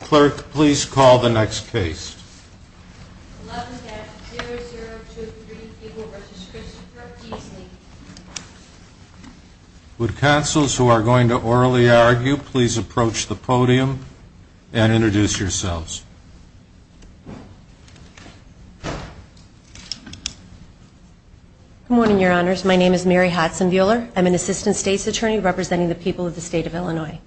Clerk please call the next case. Would counsels who are going to orally argue please approach the podium and introduce yourselves. Good morning Your Honors, my name is Mary Hodson Buehler. I'm an Assistant State's Attorney representing the people of the state of Illinois.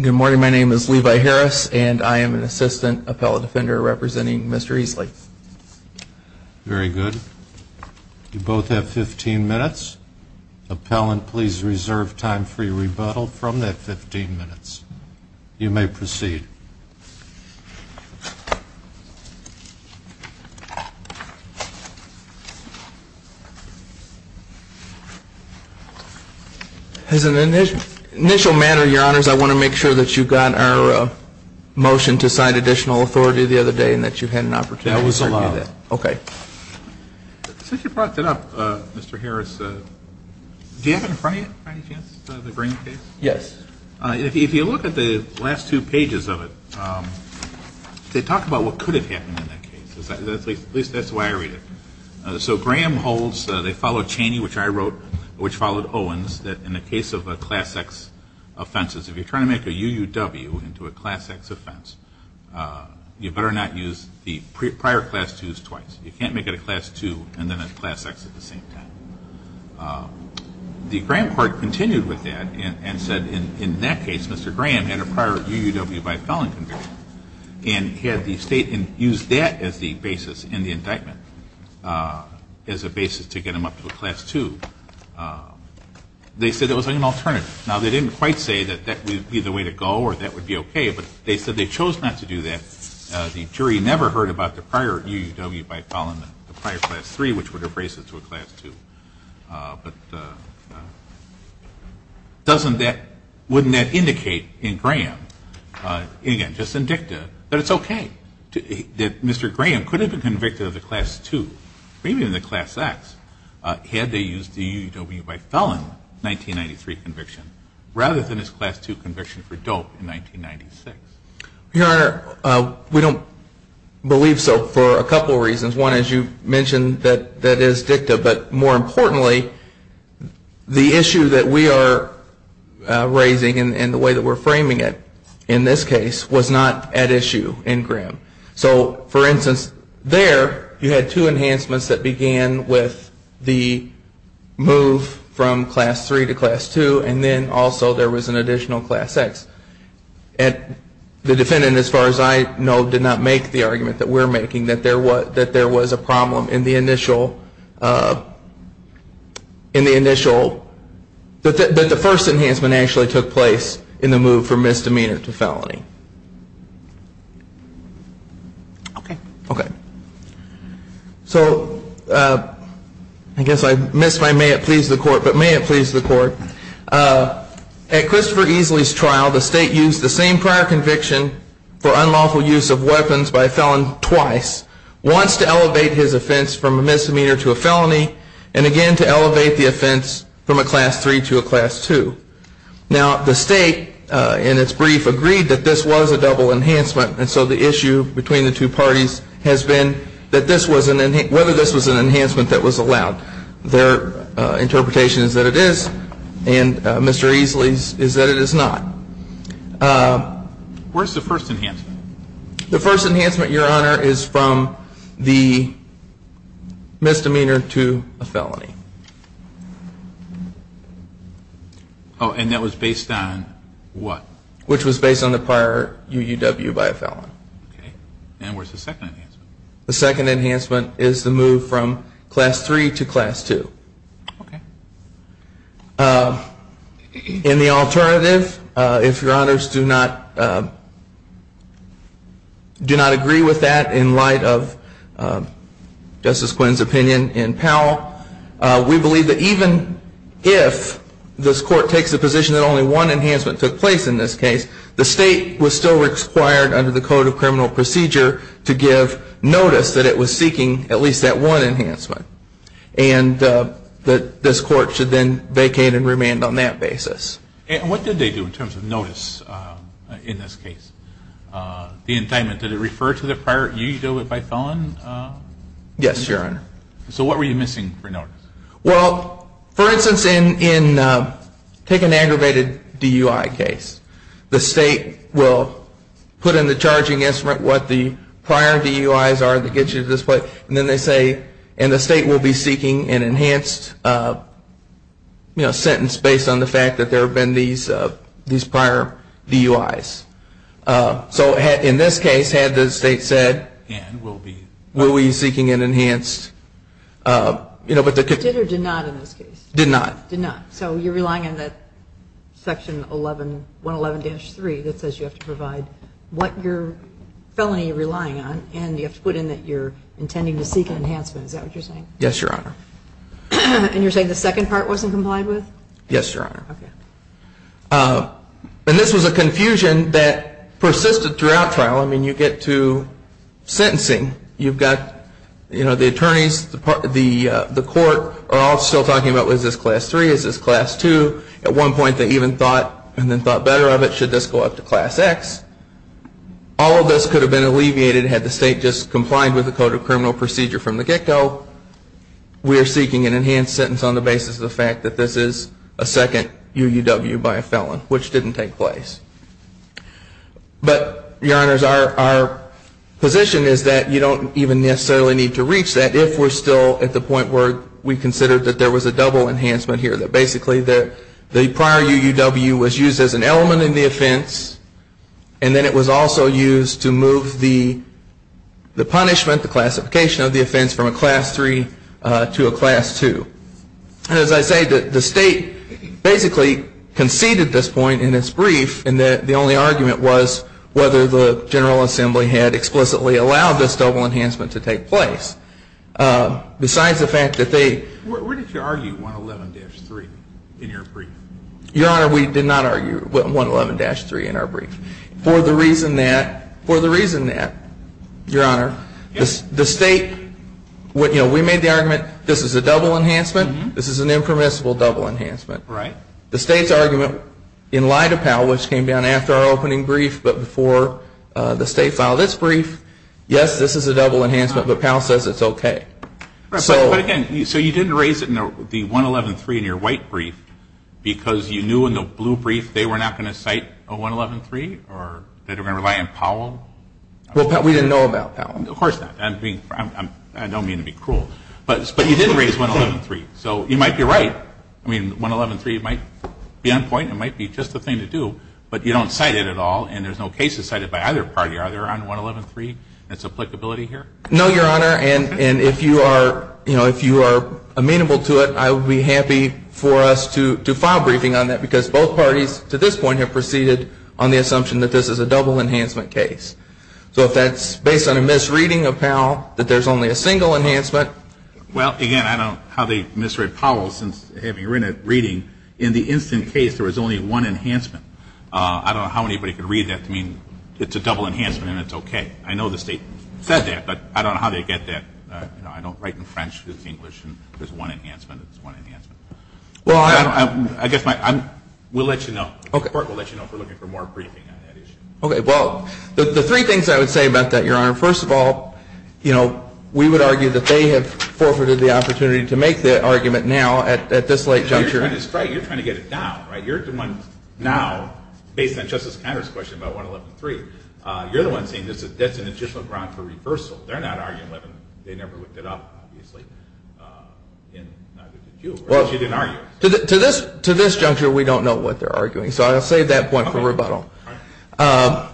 Good morning, my name is Levi Harris and I am an Assistant Appellate Defender representing Mr. Easley. Very good. You both have 15 minutes. Appellant please reserve time for your rebuttal from that 15 minutes. You may proceed. As an initial matter, Your Honors, I want to make sure that you got our motion to sign additional authority the other day and that you had an opportunity to do that. That was allowed. Okay. Since you brought that up, Mr. Harris, do you have it in front of you by any chance, the Graham case? Yes. If you look at the last two pages of it, they talk about what could have happened in that case. At least that's the way I read it. So Graham holds, they follow Chaney which I wrote, which followed Owens, that in the case of a Class X offense, if you're trying to make a UUW into a Class X offense, you better not use the prior Class 2s twice. You can't make it a Class 2 and then a Class X at the same time. The Graham court continued with that and said in that case, Mr. Graham had a prior UUW by felon conviction and had the state use that as the basis in the indictment, as a basis to get him up to a Class 2. They said it was an alternative. Now, they didn't quite say that that would be the way to go or that would be okay, but they said they chose not to do that. The jury never heard about the prior UUW by felon, the prior Class 3, which would have raised it to a Class 2. But doesn't that, wouldn't that indicate in Graham, again, just in dicta, that it's okay, that Mr. Graham could have been convicted of the Class 2, maybe even the Class X, had they used the UUW by felon 1993 conviction, rather than his Class 2 conviction for dope in 1996? Your Honor, we don't believe so for a couple reasons. One, as you mentioned, that is dicta. But more importantly, the issue that we are raising and the way that we're framing it, in this case, was not at issue in Graham. So, for instance, there you had two enhancements that began with the move from Class 3 to Class 2, and then also there was an additional Class X. The defendant, as far as I know, did not make the argument that we're making, that there was a problem in the initial, that the first enhancement actually took place in the move from misdemeanor to felony. So, I guess I missed my may it please the court, but may it please the court. At Christopher Easley's trial, the state used the same prior conviction for unlawful use of weapons by a felon twice, once to elevate his offense from a misdemeanor to a felony, and again to elevate the offense from a Class 3 to a Class 2. Now, the state in its brief agreed that this was a double enhancement, and so the issue between the two parties has been that this was an, whether this was an enhancement that was allowed. Their interpretation is that it is, and Mr. Easley's is that it is not. Where's the first enhancement? The first enhancement, your honor, is from the misdemeanor to a felony. And that was based on what? Which was based on the prior UUW by a felon. And where's the second enhancement? The second enhancement is the move from Class 3 to Class 2. In the alternative, if your honors do not agree with that in light of Justice Quinn's opinion in Powell, we believe that even if this court takes the position that only one enhancement took place in this case, the state was still required under the Code of Criminal Procedure that this court should then vacate and remand on that basis. What did they do in terms of notice in this case? The indictment, did it refer to the prior UUW by felon? Yes, your honor. So what were you missing for notice? Well, for instance, in, take an aggravated DUI case. The state will put in the charging instrument what the prior DUIs are that gets you to this point, and then they say, and the state will be seeking an enhanced, you know, sentence based on the fact that there have been these prior DUIs. So in this case, had the state said, will we be seeking an enhanced, you know, but the... Did or did not in this case? Did not. Did not. So you're relying on that Section 111-3 that says you have to provide what your felony you're relying on, and you have to put in that you're intending to seek an enhancement. Is that what you're saying? Yes, your honor. And you're saying the second part wasn't complied with? Yes, your honor. Okay. And this was a confusion that persisted throughout trial. I mean, you get to sentencing. You've got, you know, the attorneys, the court are all still talking about, was this Class 3? Is this Class 2? At one point they even thought, and then thought better of it, should this go up to Class X? All of this could have been alleviated had the state just complied with the Code of Criminal Procedure from the get-go. We're seeking an enhanced sentence on the basis of the fact that this is a second UUW by a felon, which didn't take place. But your honors, our position is that you don't even necessarily need to reach that if we're still at the point where we consider that there was a double enhancement here, that basically the prior UUW was used as an element in the offense, and then it was also used to move the punishment, the classification of the offense, from a Class 3 to a Class 2. And as I say, the state basically conceded this point in its brief, and the only argument was whether the General Assembly had explicitly allowed this double enhancement to take place. Besides the fact that they... Where did you argue 111-3 in your brief? Your honor, we did not argue 111-3 in our brief. For the reason that, your honor, the state... We made the argument, this is a double enhancement, this is an impermissible double enhancement. The state's argument in light of PAL, which came down after our opening brief but before the state filed its brief, yes, this is a double enhancement, but PAL says it's okay. But again, so you didn't raise the 111-3 in your white brief because you knew in the blue brief they were not going to cite a 111-3 or that they were going to rely on PAL? We didn't know about PAL. Of course not. I don't mean to be cruel. But you did raise 111-3, so you might be right. I mean, 111-3 might be on point, it might be just the thing to do, but you don't cite it at all, and there's no case to cite it by either party. Are there on 111-3 that's applicability here? No, your honor, and if you are, you know, if you are amenable to it, I would be happy for us to file a briefing on that, because both parties to this point have proceeded on the assumption that this is a double enhancement case. So if that's based on a misreading of PAL, that there's only a single enhancement... Well, again, I don't know how they misread PAL since, having read it, reading, in the instant case there was only one enhancement. I don't know how anybody could read that to mean it's a double enhancement and it's okay. I know the state said that, but I don't know how they get that. You know, I don't write in French, it's English, and there's one enhancement, it's one enhancement. Well, I don't... I guess my, I'm, we'll let you know. The court will let you know if we're looking for more briefing on that issue. Okay, well, the three things I would say about that, your honor. First of all, you know, we would argue that they have forfeited the opportunity to make the argument now at this late juncture. You're trying to get it down, right? You're the one now, based on Justice Conner's question about 111.3, you're the one saying that's a legitimate ground for reversal. They're not arguing 111. They never looked it up, obviously, and neither did you. Well... But you didn't argue it. To this juncture, we don't know what they're arguing, so I'll save that point for rebuttal. Okay, all right.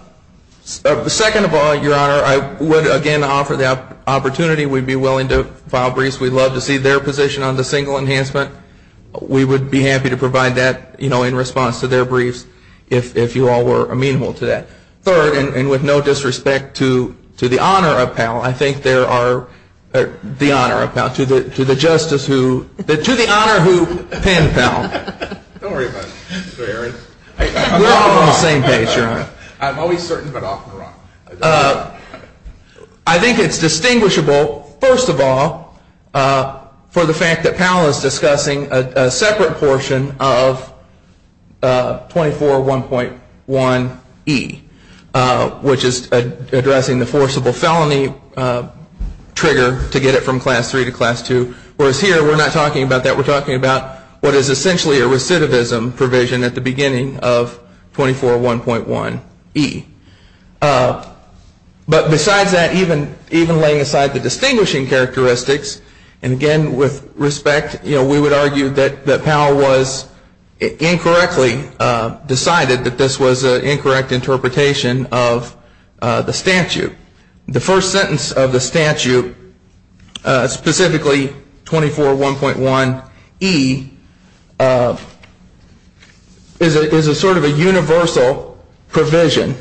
Second of all, your honor, I would, again, offer the opportunity. We'd be willing to file briefs. We'd love to see their position on the single enhancement. We would be happy to provide that, you know, in response to their briefs, if you all were amenable to that. Third, and with no disrespect to the honor of Powell, I think there are, the honor of Powell, to the justice who, to the honor who penned Powell. Don't worry about it. We're all on the same page, your honor. I'm always certain, but often wrong. I think it's distinguishable, first of all, for the fact that Powell is discussing a separate portion of 24.1.1e, which is addressing the forcible felony trigger to get it from class 3 to class 2. Whereas here, we're not talking about that. We're talking about what is essentially a recidivism provision at the beginning of 24.1.1e. But besides that, even laying aside the distinguishing characteristics, and again, with respect, we would argue that Powell was incorrectly decided that this was an incorrect interpretation of the statute. The first sentence of the statute, specifically 24.1.1e, is a sort of a universal provision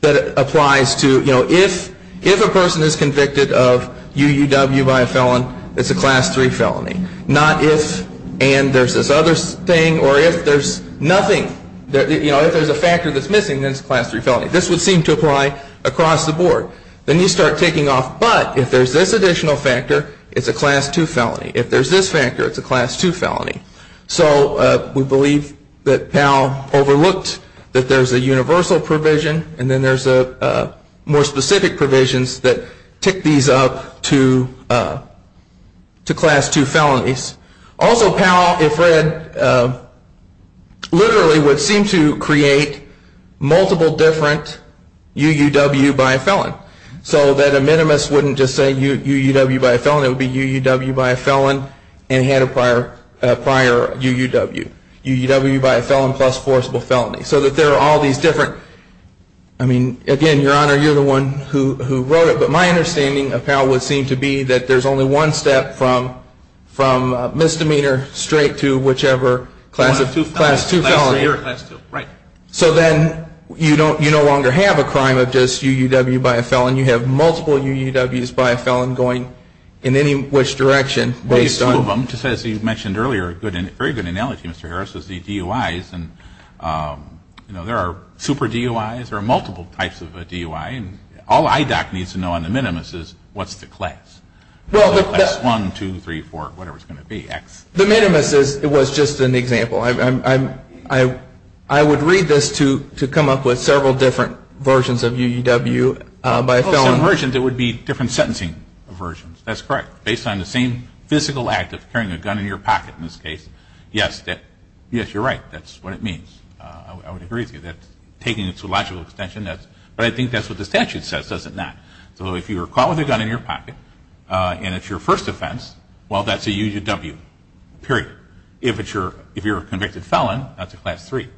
that applies to, you know, if a person is convicted of UUW by a felon, it's a class 3 felony. Not if, and there's this other thing, or if there's nothing, you know, if there's a factor that's missing, then it's a class 3 felony. This would seem to apply across the board. Then you start taking off, but if there's this additional factor, it's a class 2 felony. If there's this factor, it's a class 2 felony. So we believe that Powell overlooked that there's a universal provision, and then there's more specific provisions that tick these up to class 2 felonies. Also Powell, if read, literally would seem to create multiple different UUW by a felon. So that a minimus wouldn't just say UUW by a felon, it would be UUW by a felon and had a prior UUW. UUW by a felon plus forcible felony. So that there are all these different, I mean, again, your honor, you're the one who wrote it, but my understanding of Powell would seem to be that there's only one step from misdemeanor straight to whichever class 2 felony. So then you no longer have a crime of just UUW by a felon, you have multiple UUWs by a felon going in any which direction. Just as you mentioned earlier, a very good analogy, Mr. Harris, is the DUIs, and there are super DUIs, there are multiple types of a DUI, and all IDOC needs to know on the minimus is what's the class. The class 1, 2, 3, 4, whatever it's going to be, X. The minimus was just an example. I would read this to come up with several different versions of UUW by a felon. Well, some versions it would be different sentencing versions. That's correct. Based on the same physical act of carrying a gun in your pocket in this case, yes, you're right. That's what it means. I would agree with you. Taking it to a logical extension, but I think that's what the statute says, does it not? So if you were caught with a gun in your pocket and it's your first offense, well, that's a UUW, period. If you're a convicted felon, that's a class 3.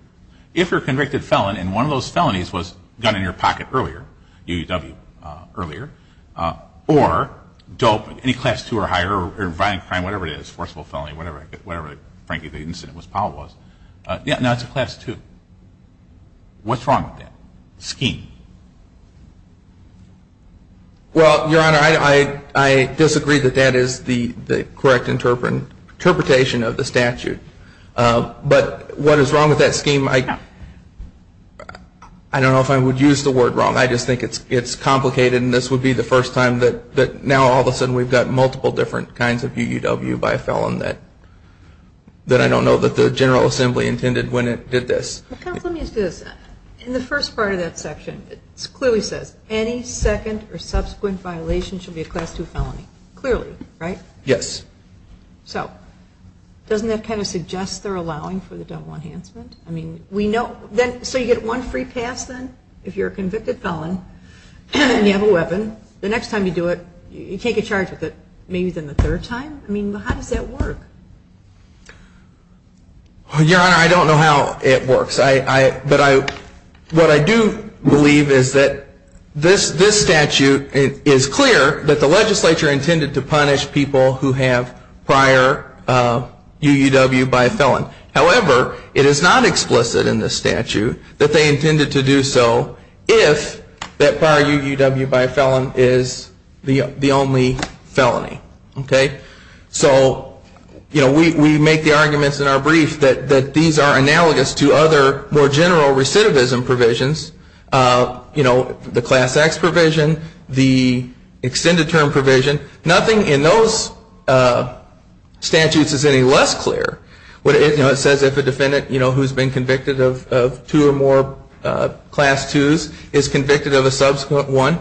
If you're a convicted felon and one of those felonies was gun in your pocket earlier, UUW earlier, or dope, any class 2 or higher, or violent crime, whatever it is, forcible felony, whatever, frankly, the incident was, power was, yeah, no, it's a class 2. What's wrong with that scheme? Well, Your Honor, I disagree that that is the correct interpretation of the statute. But what is wrong with that scheme, I don't know if I would use the word wrong. I just think it's complicated and this would be the first time that now all of a sudden we've got multiple different kinds of UUW by a felon that I don't know that the General Assembly intended when it did this. Counsel, let me ask you this. In the first part of that section, it clearly says, any second or subsequent violation should be a class 2 felony, clearly, right? Yes. So, doesn't that kind of suggest they're allowing for the double enhancement? So you get one free pass then? If you're a convicted felon, and you have a weapon, the next time you do it, you take a charge with it, maybe then the third time? I mean, how does that work? Your Honor, I don't know how it works. But what I do believe is that this statute is clear that the legislature intended to However, it is not explicit in this statute that they intended to do so if that prior UUW by a felon is the only felony. So we make the arguments in our brief that these are analogous to other more general recidivism provisions, the class X provision, the extended term provision. Nothing in those statutes is any less clear. It says if a defendant who's been convicted of two or more class 2s is convicted of a subsequent one,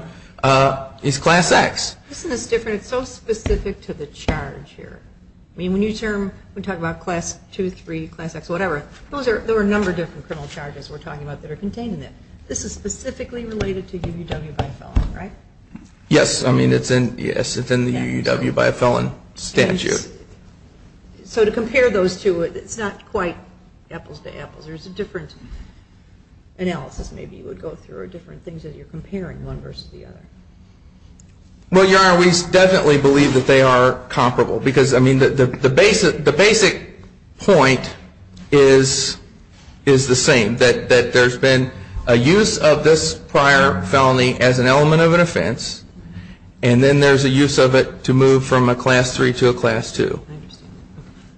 it's class X. Isn't this different? It's so specific to the charge here. I mean, when you term, we talk about class 2, 3, class X, whatever, there are a number of different criminal charges we're talking about that are contained in it. This is specifically related to UUW by a felon, right? Yes. I mean, it's in the UUW by a felon statute. So to compare those two, it's not quite apples to apples. There's a different analysis maybe you would go through or different things as you're comparing one versus the other. Well, your Honor, we definitely believe that they are comparable because, I mean, the basic point is the same, that there's been a use of this prior felony as an element of an offense and then there's a use of it to move from a class 3 to a class 2.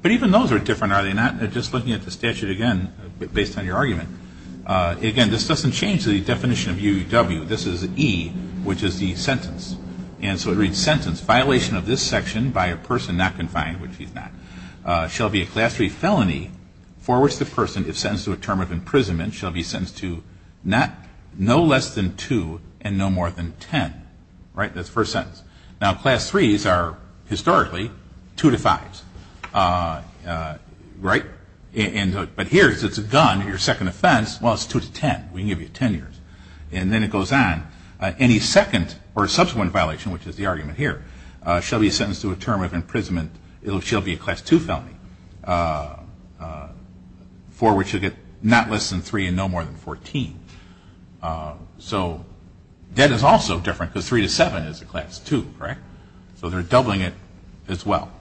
But even those are different, are they not? Just looking at the statute again, based on your argument, again, this doesn't change the definition of UUW. This is E, which is the sentence. And so it reads sentence, violation of this section by a person not confined, which he's not, shall be a class 3 felony for which the person is sentenced to a term of imprisonment shall be sentenced to no less than 2 and no more than 10. Right? That's the first sentence. Now, class 3s are historically 2 to 5s, right? But here it's a gun, your second offense, well, it's 2 to 10, we can give you 10 years. And then it goes on. Any second or subsequent violation, which is the argument here, shall be sentenced to a term of imprisonment, it shall be a class 2 felony for which you get not less than 3 and no more than 14. So debt is also different, because 3 to 7 is a class 2, right? So they're doubling it as well.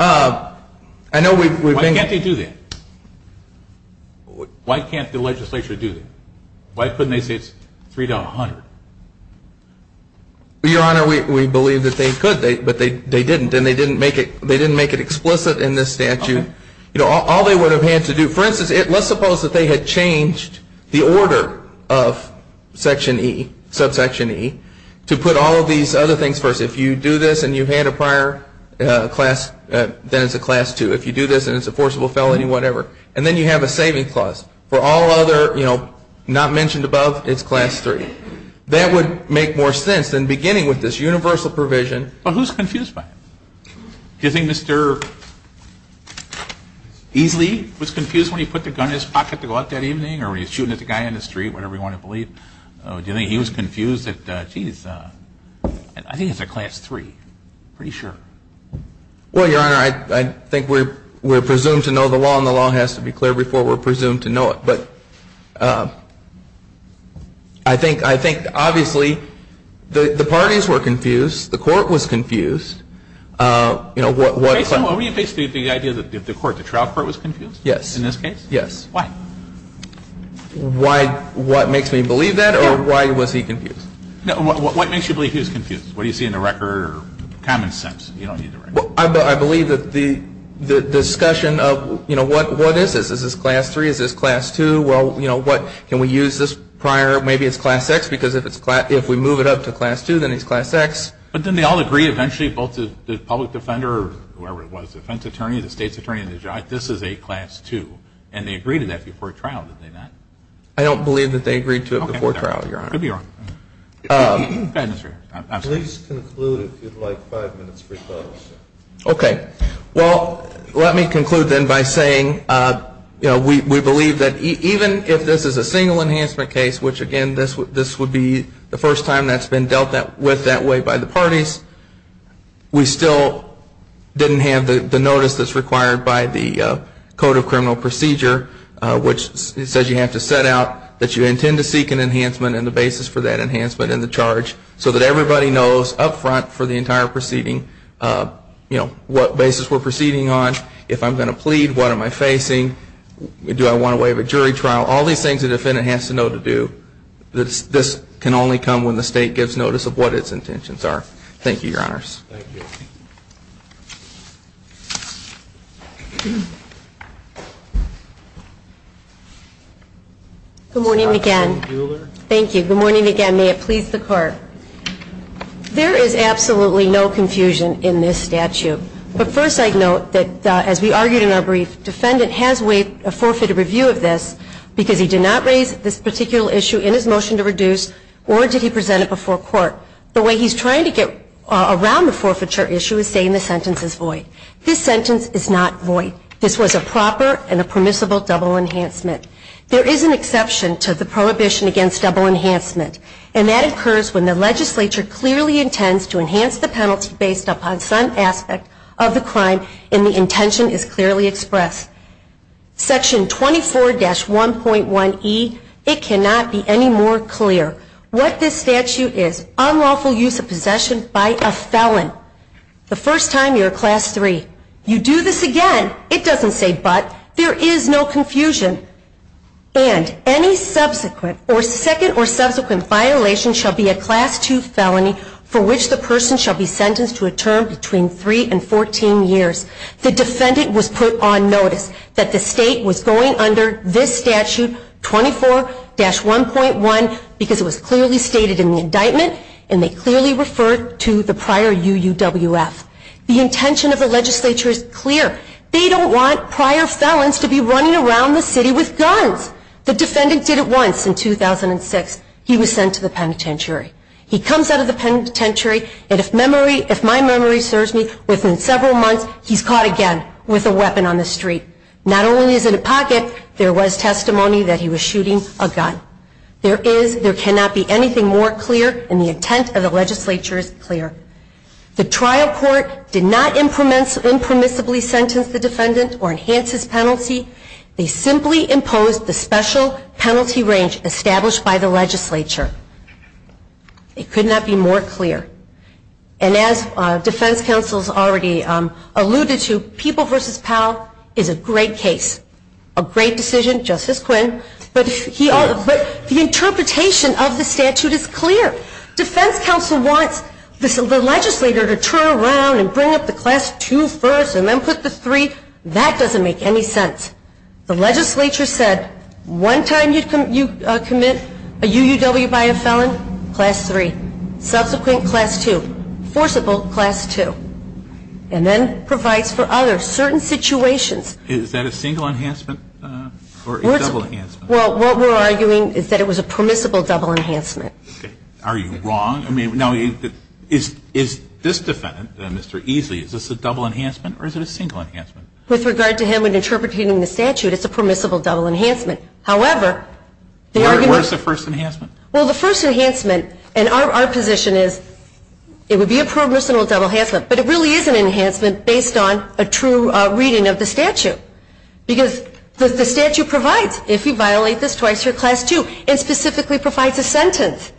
I know we've been- Why can't they do that? Why can't the legislature do that? Why couldn't they say it's 3 to 100? Your Honor, we believe that they could, but they didn't, and they didn't make it explicit in this statute. All they would have had to do, for instance, let's suppose that they had changed the order of section E, subsection E, to put all of these other things first. If you do this and you had a prior class, then it's a class 2. If you do this and it's a forcible felony, whatever. And then you have a saving clause. For all other, you know, not mentioned above, it's class 3. That would make more sense than beginning with this universal provision- Well, who's confused by it? Do you think Mr. Easley was confused when he put the gun in his pocket to go out that evening, or when he was shooting at the guy in the street, whatever you want to believe? Do you think he was confused that, geez, I think it's a class 3. Pretty sure. Well, Your Honor, I think we're presumed to know the law, and the law has to be clear before we're presumed to know it. But I think, obviously, the parties were confused. The court was confused. What- What were you basically, the idea that the court, the trial court was confused? Yes. In this case? Yes. Why? Why, what makes me believe that, or why was he confused? No, what makes you believe he was confused? What do you see in the record or common sense? You don't need the record. I believe that the discussion of, you know, what is this? Is this class 3? Is this class 2? Well, you know, what, can we use this prior, maybe it's class X, because if we move it up to class 2, then it's class X. But then they all agree, eventually, both the public defender, whoever it was, the defense attorney, the state's attorney, this is a class 2. And they agreed to that before trial, did they not? I don't believe that they agreed to it before trial, Your Honor. Could be wrong. Bad mystery. Please conclude if you'd like five minutes for your thoughts. Okay. Well, let me conclude then by saying, you know, we believe that even if this is a single enhancement case, which again, this would be the first time that's been dealt with that way by the parties, we still didn't have the notice that's required by the Code of Criminal Procedure, which says you have to set out that you intend to seek an enhancement and the basis for that enhancement and the charge so that everybody knows up front for the entire proceeding, you know, what basis we're proceeding on, if I'm going to plead, what am I facing, do I want to waive a jury trial? All these things a defendant has to know to do, this can only come when the state gives notice of what its intentions are. Thank you, Your Honors. Thank you. Good morning again. Thank you. Good morning again. May it please the Court. There is absolutely no confusion in this statute. But first I'd note that as we argued in our brief, defendant has waived a forfeited review of this because he did not raise this particular issue in his motion to reduce or did he present it before court. The way he's trying to get around the forfeiture issue is saying the sentence is void. This sentence is not void. This was a proper and a permissible double enhancement. There is an exception to the prohibition against double enhancement, and that occurs when the legislature clearly intends to enhance the penalty based upon some aspect of the crime and the intention is clearly expressed. Section 24-1.1E, it cannot be any more clear what this statute is. Unlawful use of possession by a felon. The first time you're a class three. You do this again, it doesn't say but. There is no confusion. And any subsequent or second or subsequent violation shall be a class two felony for which the person shall be sentenced to a term between three and 14 years. The defendant was put on notice that the state was going under this statute 24-1.1 because it was clearly stated in the indictment and they clearly referred to the prior UUWF. The intention of the legislature is clear. They don't want prior felons to be running around the city with guns. The defendant did it once in 2006, he was sent to the penitentiary. He comes out of the penitentiary and if my memory serves me within several months, he's caught again with a weapon on the street. Not only is it a pocket, there was testimony that he was shooting a gun. There is, there cannot be anything more clear and the intent of the legislature is clear. The trial court did not impermissibly sentence the defendant or enhance his penalty. They simply imposed the special penalty range established by the legislature. It could not be more clear. And as defense counsel's already alluded to, People v. Powell is a great case. A great decision, Justice Quinn, but the interpretation of the statute is clear. Defense counsel wants the legislator to turn around and bring up the class two first and then put the three. That doesn't make any sense. The legislature said, one time you commit a UUW by a felon, class three. Subsequent, class two. Forcible, class two. And then provides for other certain situations. Is that a single enhancement or a double enhancement? Well, what we're arguing is that it was a permissible double enhancement. Are you wrong? I mean, now, is this defendant, Mr. Easley, is this a double enhancement or is it a single enhancement? With regard to him interpreting the statute, it's a permissible double enhancement. However, the argument- Where's the first enhancement? Well, the first enhancement, and our position is, it would be a permissible double enhancement. But it really is an enhancement based on a true reading of the statute. Because the statute provides, if you violate this twice, you're class two. It specifically provides a sentence.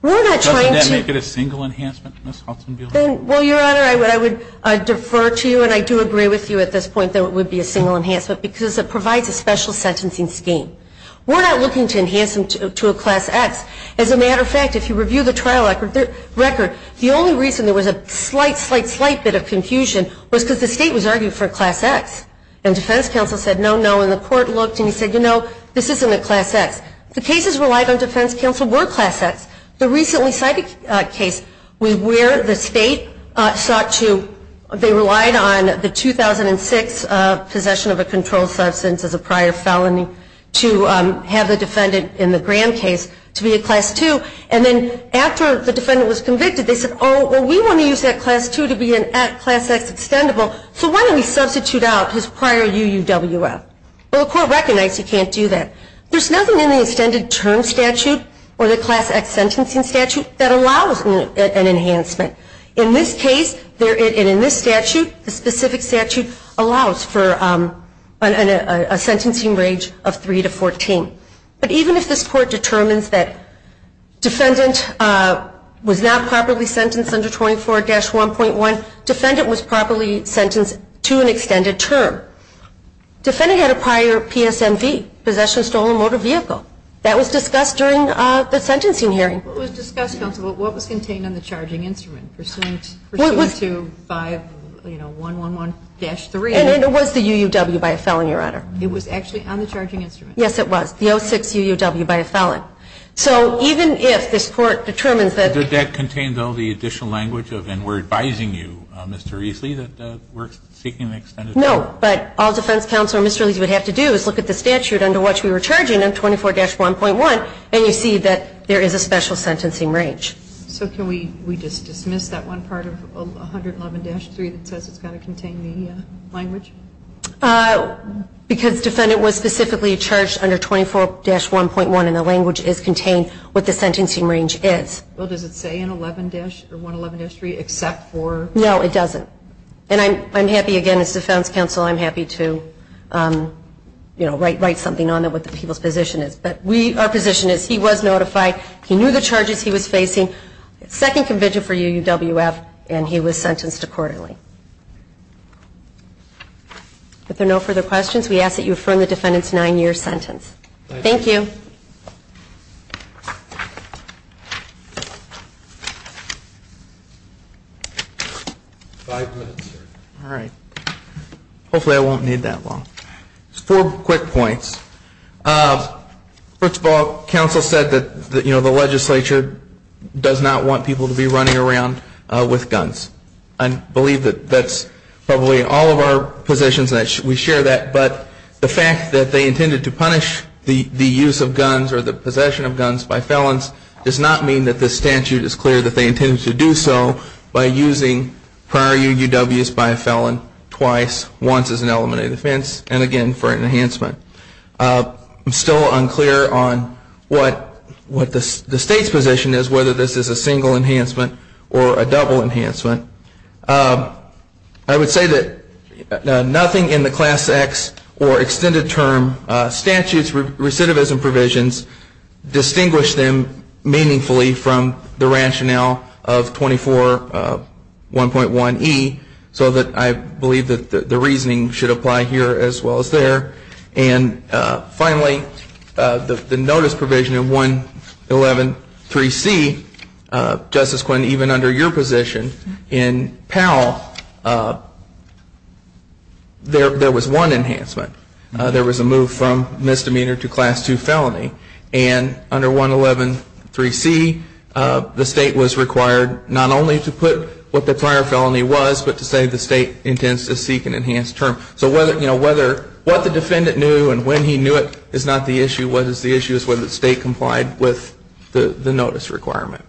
We're not trying to- Doesn't that make it a single enhancement, Ms. Hudson-Bielman? Well, your honor, I would defer to you, and I do agree with you at this point that it would be a single enhancement, because it provides a special sentencing scheme. We're not looking to enhance him to a class X. As a matter of fact, if you review the trial record, the only reason there was a slight, slight, slight bit of confusion was because the state was arguing for a class X. And defense counsel said, no, no, and the court looked, and he said, you know, this isn't a class X. The cases relied on defense counsel were class X. The recently cited case was where the state sought to, they relied on the 2006 possession of a controlled substance as a prior felony to have the defendant in the Graham case to be a class two. And then after the defendant was convicted, they said, oh, well, we want to use that class two to be a class X extendable. So why don't we substitute out his prior UUWF? Well, the court recognized he can't do that. There's nothing in the extended term statute or the class X sentencing statute that allows an enhancement. In this case, and in this statute, the specific statute allows for a sentencing range of three to 14. But even if this court determines that defendant was not properly sentenced under 24-1.1, defendant was properly sentenced to an extended term. Defendant had a prior PSMV, possession stolen motor vehicle. That was discussed during the sentencing hearing. It was discussed, counsel, what was contained on the charging instrument, pursuant to 5111-3. And it was the UUW by a felony, Your Honor. It was actually on the charging instrument. Yes, it was. The 06 UUW by a felony. So even if this court determines that- Did that contain all the additional language of, and we're advising you, Mr. Eesley, that we're seeking an extended term? No, but all defense counsel and Mr. Eesley would have to do is look at the statute under which we were charging him, 24-1.1, and you see that there is a special sentencing range. So can we just dismiss that one part of 111-3 that says it's got to contain the language? Because defendant was specifically charged under 24-1.1 and the language is contained with the sentencing range is. Well, does it say in 111-3 except for- No, it doesn't. And I'm happy, again, as defense counsel, I'm happy to write something on it with the people's position is. But our position is he was notified, he knew the charges he was facing, second conviction for UUWF, and he was sentenced to quarterly. If there are no further questions, we ask that you affirm the defendant's nine-year sentence. Thank you. Five minutes, sir. All right, hopefully I won't need that long. Just four quick points. First of all, counsel said that the legislature does not want people to be running around with guns. I believe that that's probably in all of our positions that we share that, but the fact that they intended to punish the use of guns or the possession of guns by felons does not mean that this statute is clear that they intended to do so by using prior UUWs by a felon twice, once as an element of defense, and again for an enhancement. I'm still unclear on what the state's position is, whether this is a single enhancement or a double enhancement. I would say that nothing in the Class X or extended term statutes recidivism provisions distinguish them meaningfully from the rationale of 24 1.1 E, so that I believe that the reasoning should apply here as well as there. And finally, the notice provision in 111.3c, Justice Quinn, even under your position in Powell, there was one enhancement. There was a move from misdemeanor to class two felony. And under 111.3c, the state was required not only to put what the prior felony was, but to say the state intends to seek an enhanced term. So what the defendant knew and when he knew it is not the issue. What is the issue is whether the state complied with the notice requirement.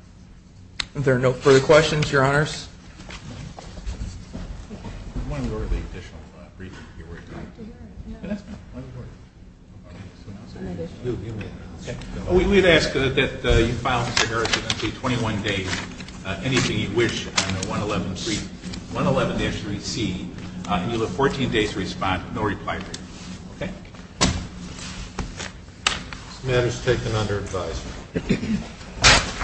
Are there no further questions, your honors? I want to go over the additional briefing here real quick. We've asked that you file Mr. Harris a 21-day, anything you wish on the 111.3, 111.3c, and you'll have 14 days to respond, no reply period, okay? This matter is taken under advisement.